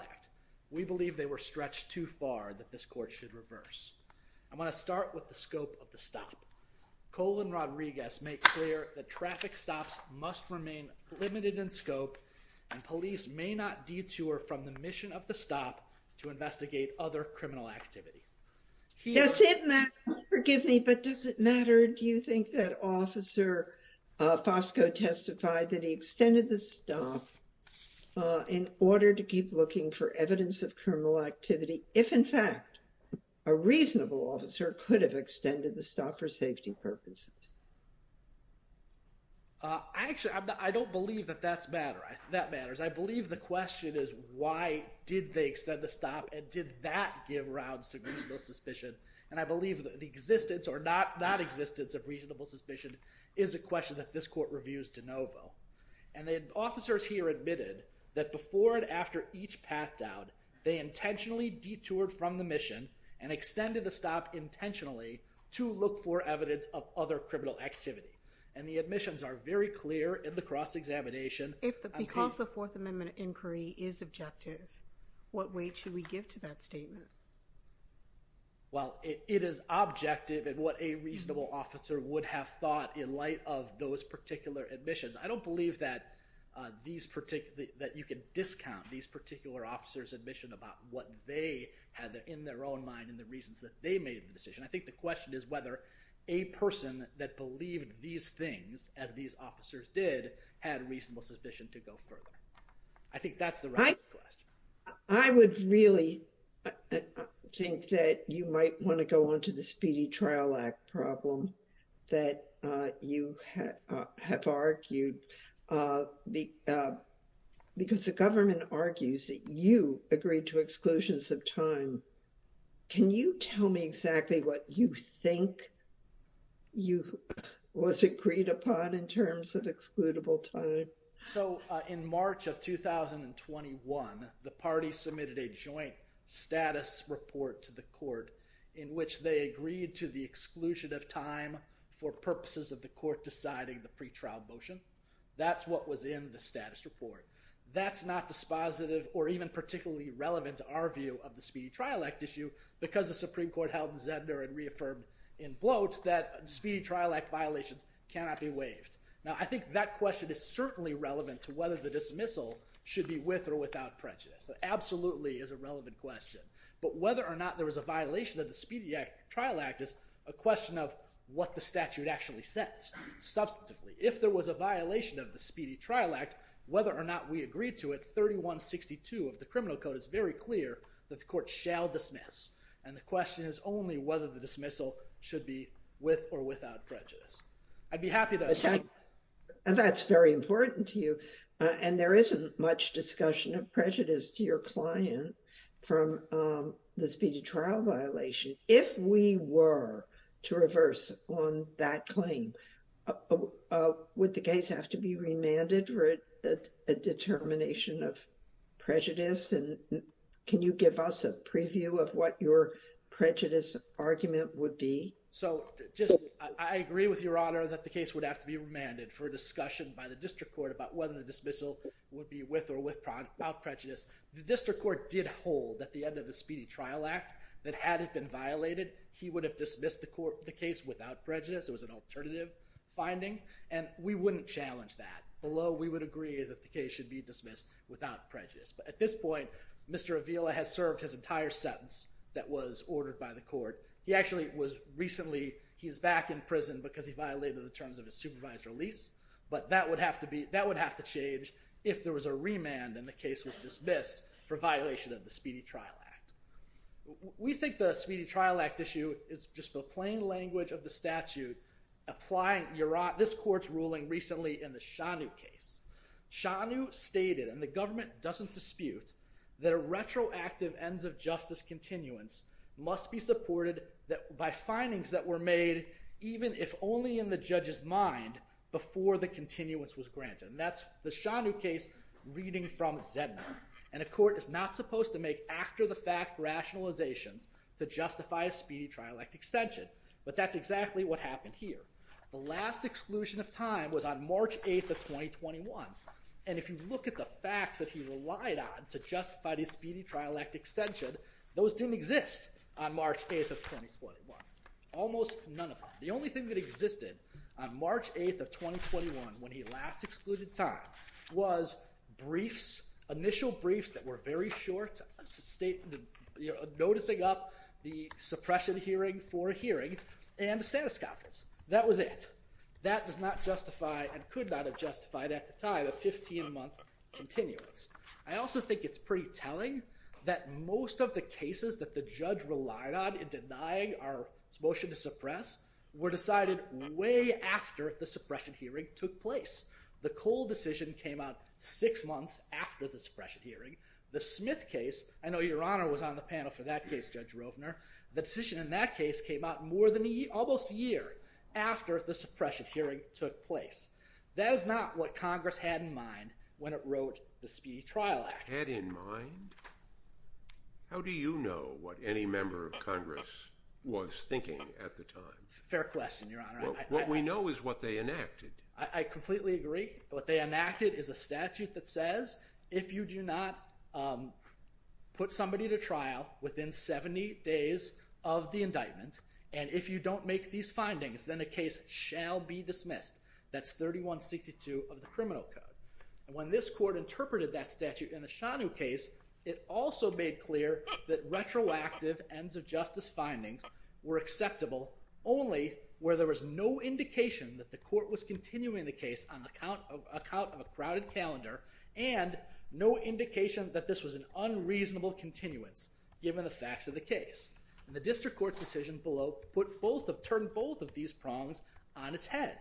Act. We believe they were stretched too far that this court should reverse. I'm going to start with the scope of the stop. Colin Rodriguez makes clear that traffic stops must remain limited in scope and police may not detour from the mission of the stop to investigate other criminal activity. Does it matter, forgive me, but does it matter do you think that officer Fosco testified that he extended the stop in order to keep looking for evidence of criminal activity if in fact a reasonable officer could have extended the stop for safety purposes? Actually I don't believe that that matters. I believe the question is why did they extend the stop and did that give rounds to reasonable suspicion and I believe that the existence or not existence of reasonable suspicion is a question that this court reviews de novo. And the officers here admitted that before and after each path down they intentionally detoured from the mission and extended the stop intentionally to look for evidence of other criminal activity and the admissions are very clear in the cross-examination. If because the Fourth Amendment inquiry is objective what weight should we give to that statement? Well it is objective and what a reasonable officer would have thought in light of those particular admissions. I don't believe that these particular that you can discount these particular officers admission about what they had there in their own mind and the reasons that they made the decision. I think the question is whether a person that believed these things as these officers did had reasonable suspicion to go further. I think that's the right question. I would really think that you might want to go on to the Speedy Trial Act problem that you have argued because the government argues that you agreed to exclusions of time. Can you tell me exactly what you think you was agreed upon in terms of excludable time? So in which they agreed to the exclusion of time for purposes of the court deciding the pretrial motion? That's what was in the status report. That's not dispositive or even particularly relevant to our view of the Speedy Trial Act issue because the Supreme Court held Zender and reaffirmed in bloat that Speedy Trial Act violations cannot be waived. Now I think that question is certainly relevant to whether the dismissal should be with or without prejudice. Absolutely is a relevant question. But whether or not there was a violation of the Speedy Act Trial Act is a question of what the statute actually says. Substantively if there was a violation of the Speedy Trial Act whether or not we agreed to it 3162 of the Criminal Code is very clear that the court shall dismiss and the question is only whether the dismissal should be with or without prejudice. I'd be happy to. That's very important to you and there isn't much discussion of client from the Speedy Trial violation. If we were to reverse on that claim would the case have to be remanded for a determination of prejudice and can you give us a preview of what your prejudice argument would be? So just I agree with Your Honor that the case would have to be remanded for discussion by the district court about whether the dismissal would be with or without prejudice. The district court did hold at the end of the Speedy Trial Act that had it been violated he would have dismissed the case without prejudice. It was an alternative finding and we wouldn't challenge that. Although we would agree that the case should be dismissed without prejudice. But at this point Mr. Avila has served his entire sentence that was ordered by the court. He actually was recently he's back in prison because he violated the terms of his supervised release but that would have to be that would have to change if there was a remand and the case was dismissed for violation of the Speedy Trial Act. We think the Speedy Trial Act issue is just the plain language of the statute applying Your Honor this court's ruling recently in the Shanu case. Shanu stated and the government doesn't dispute that a retroactive ends of justice continuance must be supported that by findings that were made even if only in the judge's mind before the continuance was granted. And that's the Shanu case reading from Zedner. And a court is not supposed to make after-the-fact rationalizations to justify a Speedy Trial Act extension. But that's exactly what happened here. The last exclusion of time was on March 8th of 2021 and if you look at the facts that he relied on to justify the Speedy Trial Act extension those didn't exist on March 8th of 2021. Almost none of them. The only thing that was briefs, initial briefs that were very short. Noticing up the suppression hearing for a hearing and the status conference. That was it. That does not justify and could not have justified at the time a 15-month continuance. I also think it's pretty telling that most of the cases that the judge relied on in denying our motion to suppress were decided way after the suppression hearing took place. The Cole decision came out six months after the suppression hearing. The Smith case, I know your honor was on the panel for that case Judge Rovner, the decision in that case came out more than almost a year after the suppression hearing took place. That is not what Congress had in mind when it wrote the Speedy Trial Act. Had in mind? How do you know what any member of Congress was thinking at the time? Fair question your honor. What we know is what they enacted. I completely agree. What they enacted is a statute that says if you do not put somebody to trial within 70 days of the indictment and if you don't make these findings then the case shall be dismissed. That's 3162 of the criminal code. And when this court interpreted that statute in the Shanu case, it also made clear that retroactive ends of justice findings were acceptable only where there was no indication that the court was continuing the case on the account of a crowded calendar and no indication that this was an unreasonable continuance given the facts of the case. The district court's decision below put both of turned both of these prongs on its head.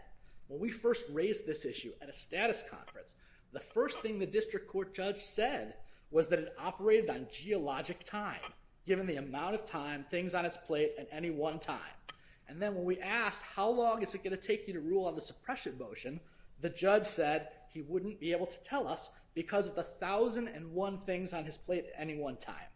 When we first raised this issue at a status conference the first thing the district court judge said was that it operated on geologic time given the amount of time things on its plate at any one time. And then when we asked how long is it going to take you to rule on the suppression motion the judge said he wouldn't be able to tell us because of the thousand and one things on his plate at any one time.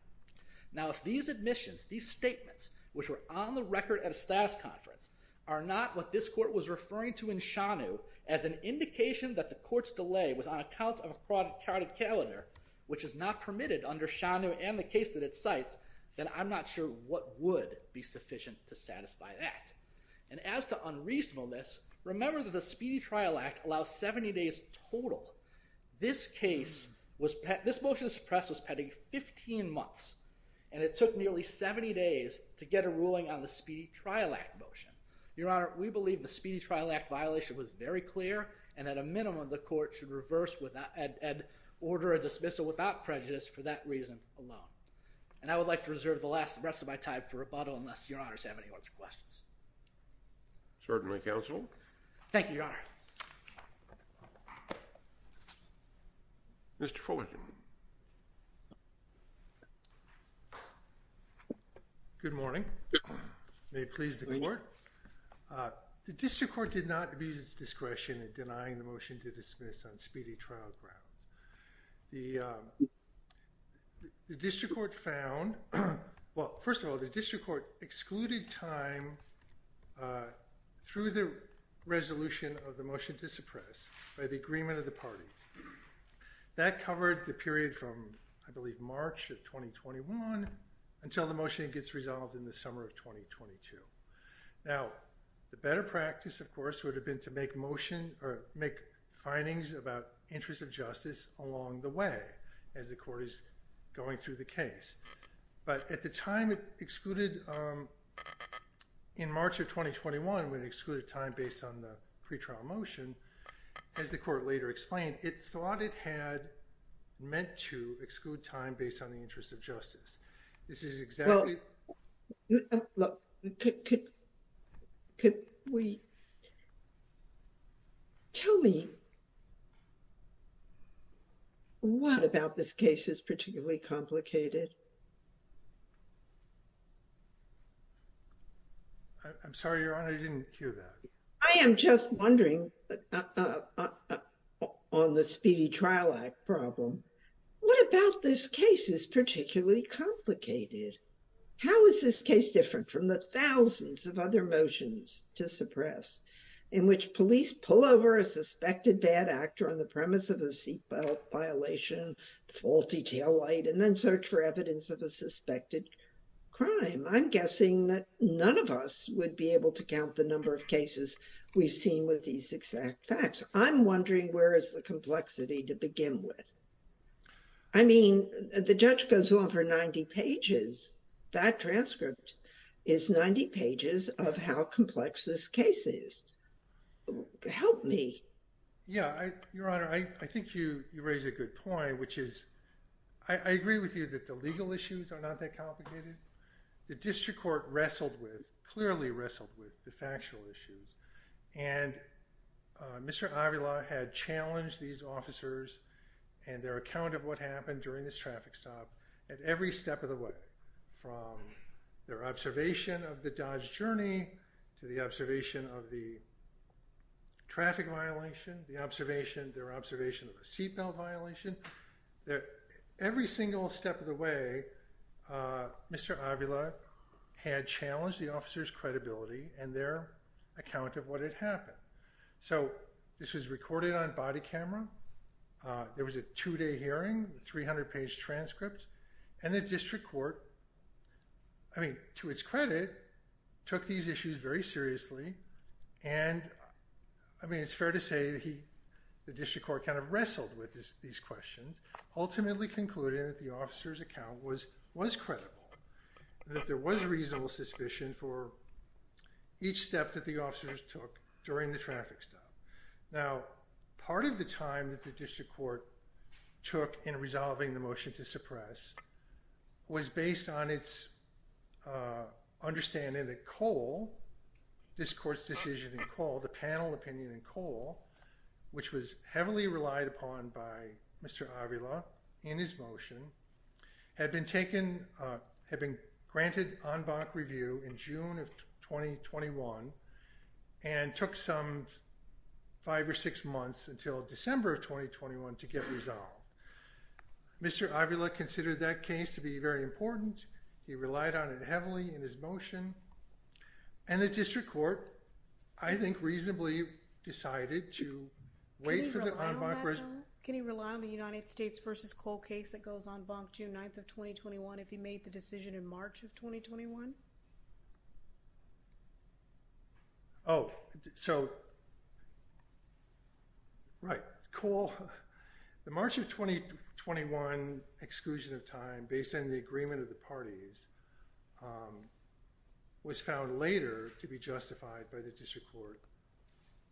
Now if these admissions these statements which were on the record at a status conference are not what this court was referring to in Shanu as an indication that the court's delay was on account of a crowded calendar which is not permitted under Shanu and the case that it cites then I'm not sure what would be sufficient to satisfy that. And as to unreasonableness remember that the Speedy Trial Act allows 70 days total. This case was this motion suppress was pending 15 months and it took nearly 70 days to get a ruling on the Speedy Trial Act motion. Your Honor we believe the Speedy Trial Act violation was very clear and at a minimum the court should reverse without and order a dismissal without prejudice for that reason alone. And I would like to reserve the last rest of my time for rebuttal unless your honors have any questions. Certainly counsel. Thank you your honor. Mr. Fullerton. Good morning. May it please the court. The district court did not abuse its discretion in denying the motion to First of all the district court excluded time through the resolution of the motion to suppress by the agreement of the parties. That covered the period from I believe March of 2021 until the motion gets resolved in the summer of 2022. Now the better practice of course would have been to make motion or make findings about interest of justice along the way as the court is going through the case. But at the time it excluded in March of 2021 when it excluded time based on the pretrial motion as the court later explained it thought it had meant to exclude time based on the interest of justice. This is exactly. Look could we tell me what about this case is particularly complicated. I'm sorry your honor didn't hear that. I am just wondering on the speedy trial act problem. What about this case is particularly complicated. How is this different from the thousands of other motions to suppress in which police pull over a suspected bad actor on the premise of a seatbelt violation faulty taillight and then search for evidence of a suspected crime. I'm guessing that none of us would be able to count the number of cases we've seen with these exact facts. I'm wondering where is the complexity to begin with. I mean the judge goes on for 90 pages. That transcript is 90 pages of how complex this case is. Help me. Yeah your honor I think you raise a good point which is I agree with you that the legal issues are not that complicated. The district court wrestled with clearly wrestled with the factual issues and Mr. Avila had challenged these officers and their account of what happened during this traffic stop at every step of the way from their observation of the Dodge journey to the observation of the traffic violation the observation their observation of a seatbelt violation there every single step of the way Mr. Avila had challenged the officers credibility and their account of what had happened. So this was recorded on body camera. There was a two-day hearing 300 page transcript and the district court I mean to its credit took these issues very seriously and I mean it's fair to say that he the district court kind of wrestled with these questions ultimately concluded that the officer's account was was credible that there was reasonable suspicion for each step that the officers took during the traffic stop. Now part of the time that the district court took in resolving the motion to suppress was based on its understanding that Cole this court's decision to call the panel opinion in Cole which was heavily relied upon by Mr. Avila in his motion had been taken had been granted en banc review in June of 2021 and took some five or six months until December of 2021 to get resolved. Mr. Avila considered that case to be very important he relied on it heavily in his motion and the district court I think reasonably decided to wait for the en banc review. Can he rely on the United States versus Cole case that goes en banc June 9th of 2021 if he made the decision in Right. Cole the March of 2021 exclusion of time based on the agreement of the parties was found later to be justified by the district court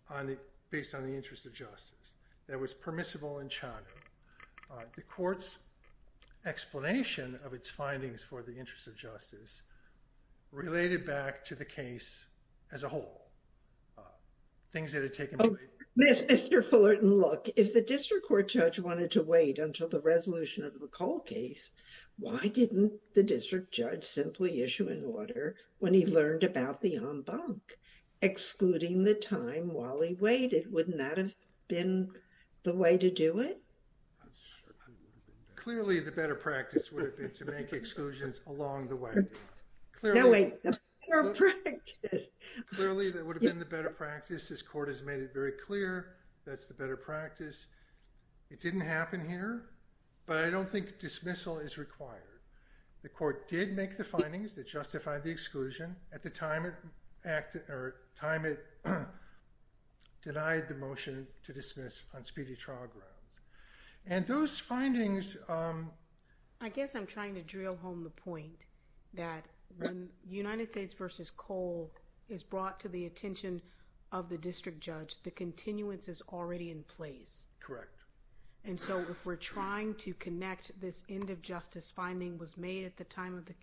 on the based on the interest of justice that was permissible in Chano. The court's explanation of its findings for the interest of justice related back to the district court judge wanted to wait until the resolution of the Cole case why didn't the district judge simply issue an order when he learned about the en banc excluding the time while he waited wouldn't that have been the way to do it? Clearly the better practice would have been to make exclusions along the way. Clearly that would have been the better practice this court has made it very clear that's the better practice. It didn't happen here but I don't think dismissal is required. The court did make the findings that justified the exclusion at the time it acted or time it denied the motion to dismiss on speedy trial grounds and those findings I guess I'm trying to drill home the point that when United States versus Cole is brought to the attention of the the continuance is already in place. Correct. And so if we're trying to connect this end of justice finding was made at the time of the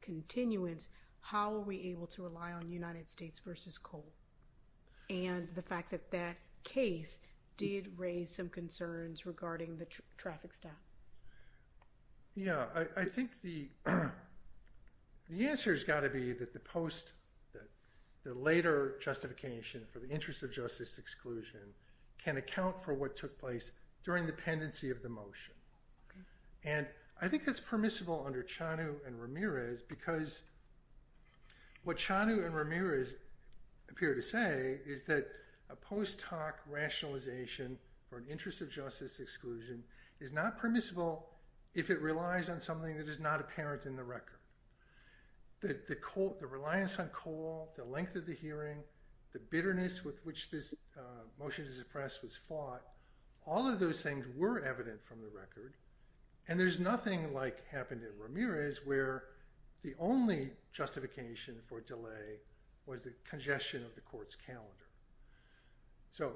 continuance how are we able to rely on United States versus Cole and the fact that that case did raise some concerns regarding the traffic stop. Yeah I think the the answer has got to be that the post that the later justification for the interest of justice exclusion can account for what took place during the pendency of the motion and I think that's permissible under Chanu and Ramirez because what Chanu and Ramirez appear to say is that a post hoc rationalization for an interest of justice exclusion is not permissible if it relies on something that is not apparent in the record. The reliance on Cole, the length of the hearing, the bitterness with which this motion to suppress was fought, all of those things were evident from the record and there's nothing like happened in Ramirez where the only justification for delay was the congestion of the court's calendar. So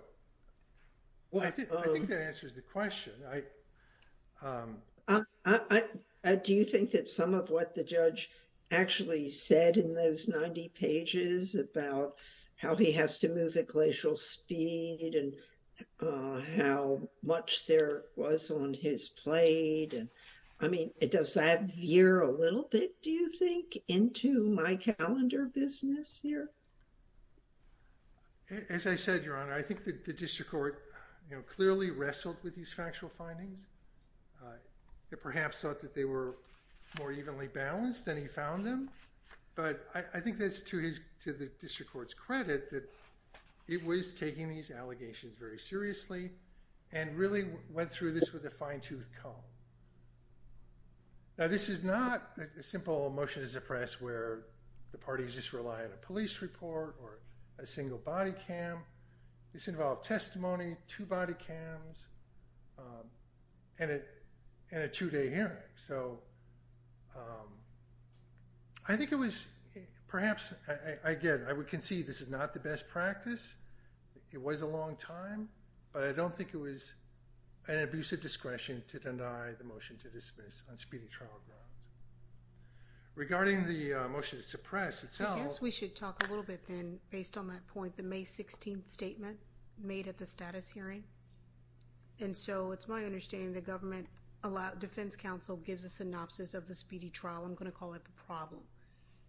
I think that answers the question. I do you think that some of what the judge actually said in those 90 pages about how he has to move at glacial speed and how much there was on his plate and I mean it does that veer a little bit do you think into my calendar business here? As I said Your Honor, I think that the district court you know clearly wrestled with these and he found them but I think that's to the district court's credit that it was taking these allegations very seriously and really went through this with a fine-tooth comb. Now this is not a simple motion to suppress where the parties just rely on a police report or a single body cam. This involved testimony, two day hearing. So I think it was perhaps again I would concede this is not the best practice. It was a long time but I don't think it was an abusive discretion to deny the motion to dismiss on speeding trial grounds. Regarding the motion to suppress itself. I guess we should talk a little bit then based on that point the May 16th statement made at the status hearing and so it's my understanding the defense counsel gives a synopsis of the speedy trial. I'm going to call it the problem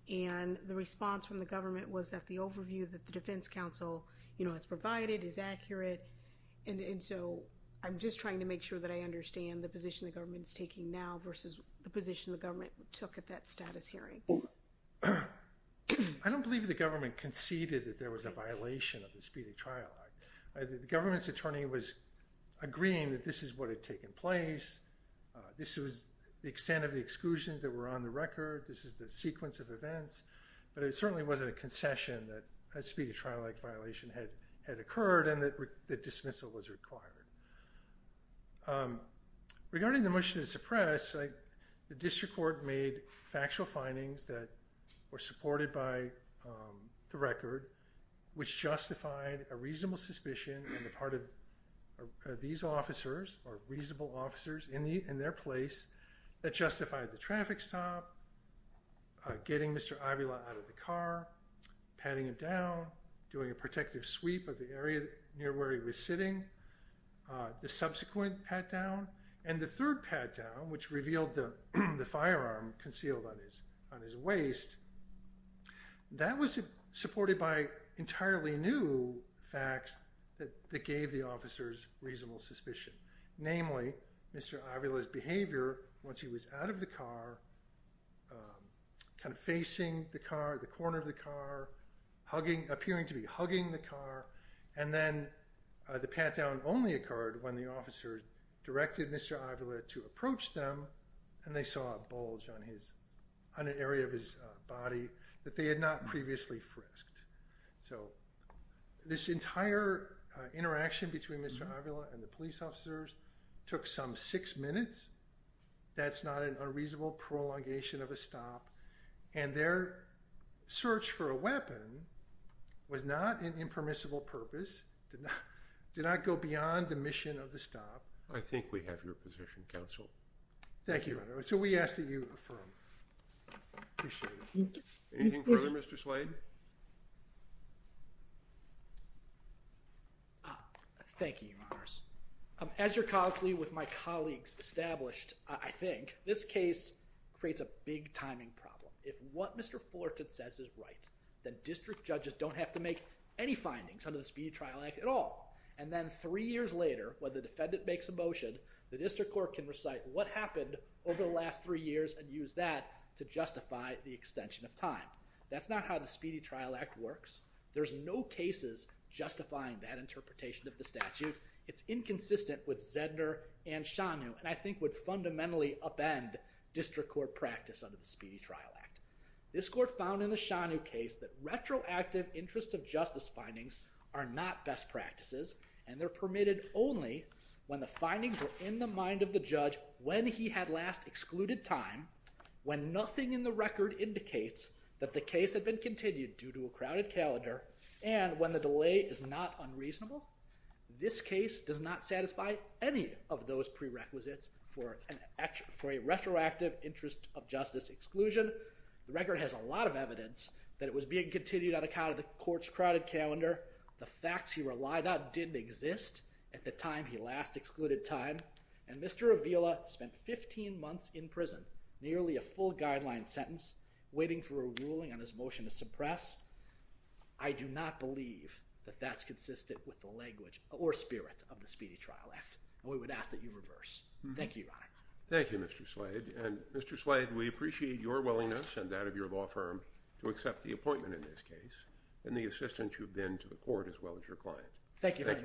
and the response from the government was that the overview that the defense counsel you know has provided is accurate and so I'm just trying to make sure that I understand the position the government's taking now versus the position the government took at that status hearing. I don't believe the government conceded that there was a violation of the Speedy Trial Act. The this was the extent of the exclusions that were on the record. This is the sequence of events but it certainly wasn't a concession that a Speedy Trial Act violation had had occurred and that the dismissal was required. Regarding the motion to suppress, the district court made factual findings that were supported by the record which justified a reasonable suspicion in the part of these officers or reasonable officers in the in their place that justified the traffic stop, getting Mr. Avila out of the car, patting him down, doing a protective sweep of the area near where he was sitting, the subsequent pat down and the third pat down which revealed the the firearm concealed on his on his reasonable suspicion. Namely, Mr. Avila's behavior once he was out of the car, kind of facing the car, the corner of the car, hugging, appearing to be hugging the car and then the pat down only occurred when the officer directed Mr. Avila to approach them and they saw a bulge on his on an area of his body that they had not previously frisked. So this entire interaction between Mr. Avila and the police officers took some six minutes. That's not an unreasonable prolongation of a stop and their search for a weapon was not an impermissible purpose, did not did not go beyond the mission of the stop. I think we have your position, Thank you. So we ask that you affirm. Anything further, Mr. Slade? Thank you, Your Honors. As your colleague with my colleagues established, I think, this case creates a big timing problem. If what Mr. Fullerton says is right, then district judges don't have to make any findings under the Speedy Trial Act at all and then three years later when the defendant makes a motion, the district court can recite what happened over the last three years and use that to justify the extension of time. That's not how the Speedy Trial Act works. There's no cases justifying that interpretation of the statute. It's inconsistent with Zedner and Shanu and I think would fundamentally upend district court practice under the Speedy Trial Act. This court found in the Shanu case that retroactive interest of justice findings are not best practices and they're permitted only when the judge, when he had last excluded time, when nothing in the record indicates that the case had been continued due to a crowded calendar, and when the delay is not unreasonable. This case does not satisfy any of those prerequisites for a retroactive interest of justice exclusion. The record has a lot of evidence that it was being continued on account of the court's crowded calendar, the facts he relied on didn't exist at the time he last excluded time, and Mr. Avila spent 15 months in prison, nearly a full guideline sentence, waiting for a ruling on his motion to suppress. I do not believe that that's consistent with the language or spirit of the Speedy Trial Act and we would ask that you reverse. Thank you, Your Honor. Thank you, Mr. Slade, and Mr. Slade, we appreciate your willingness and that of your law firm to accept the appointment in this case and the assistance you've been to the court as well as your client. Thank you very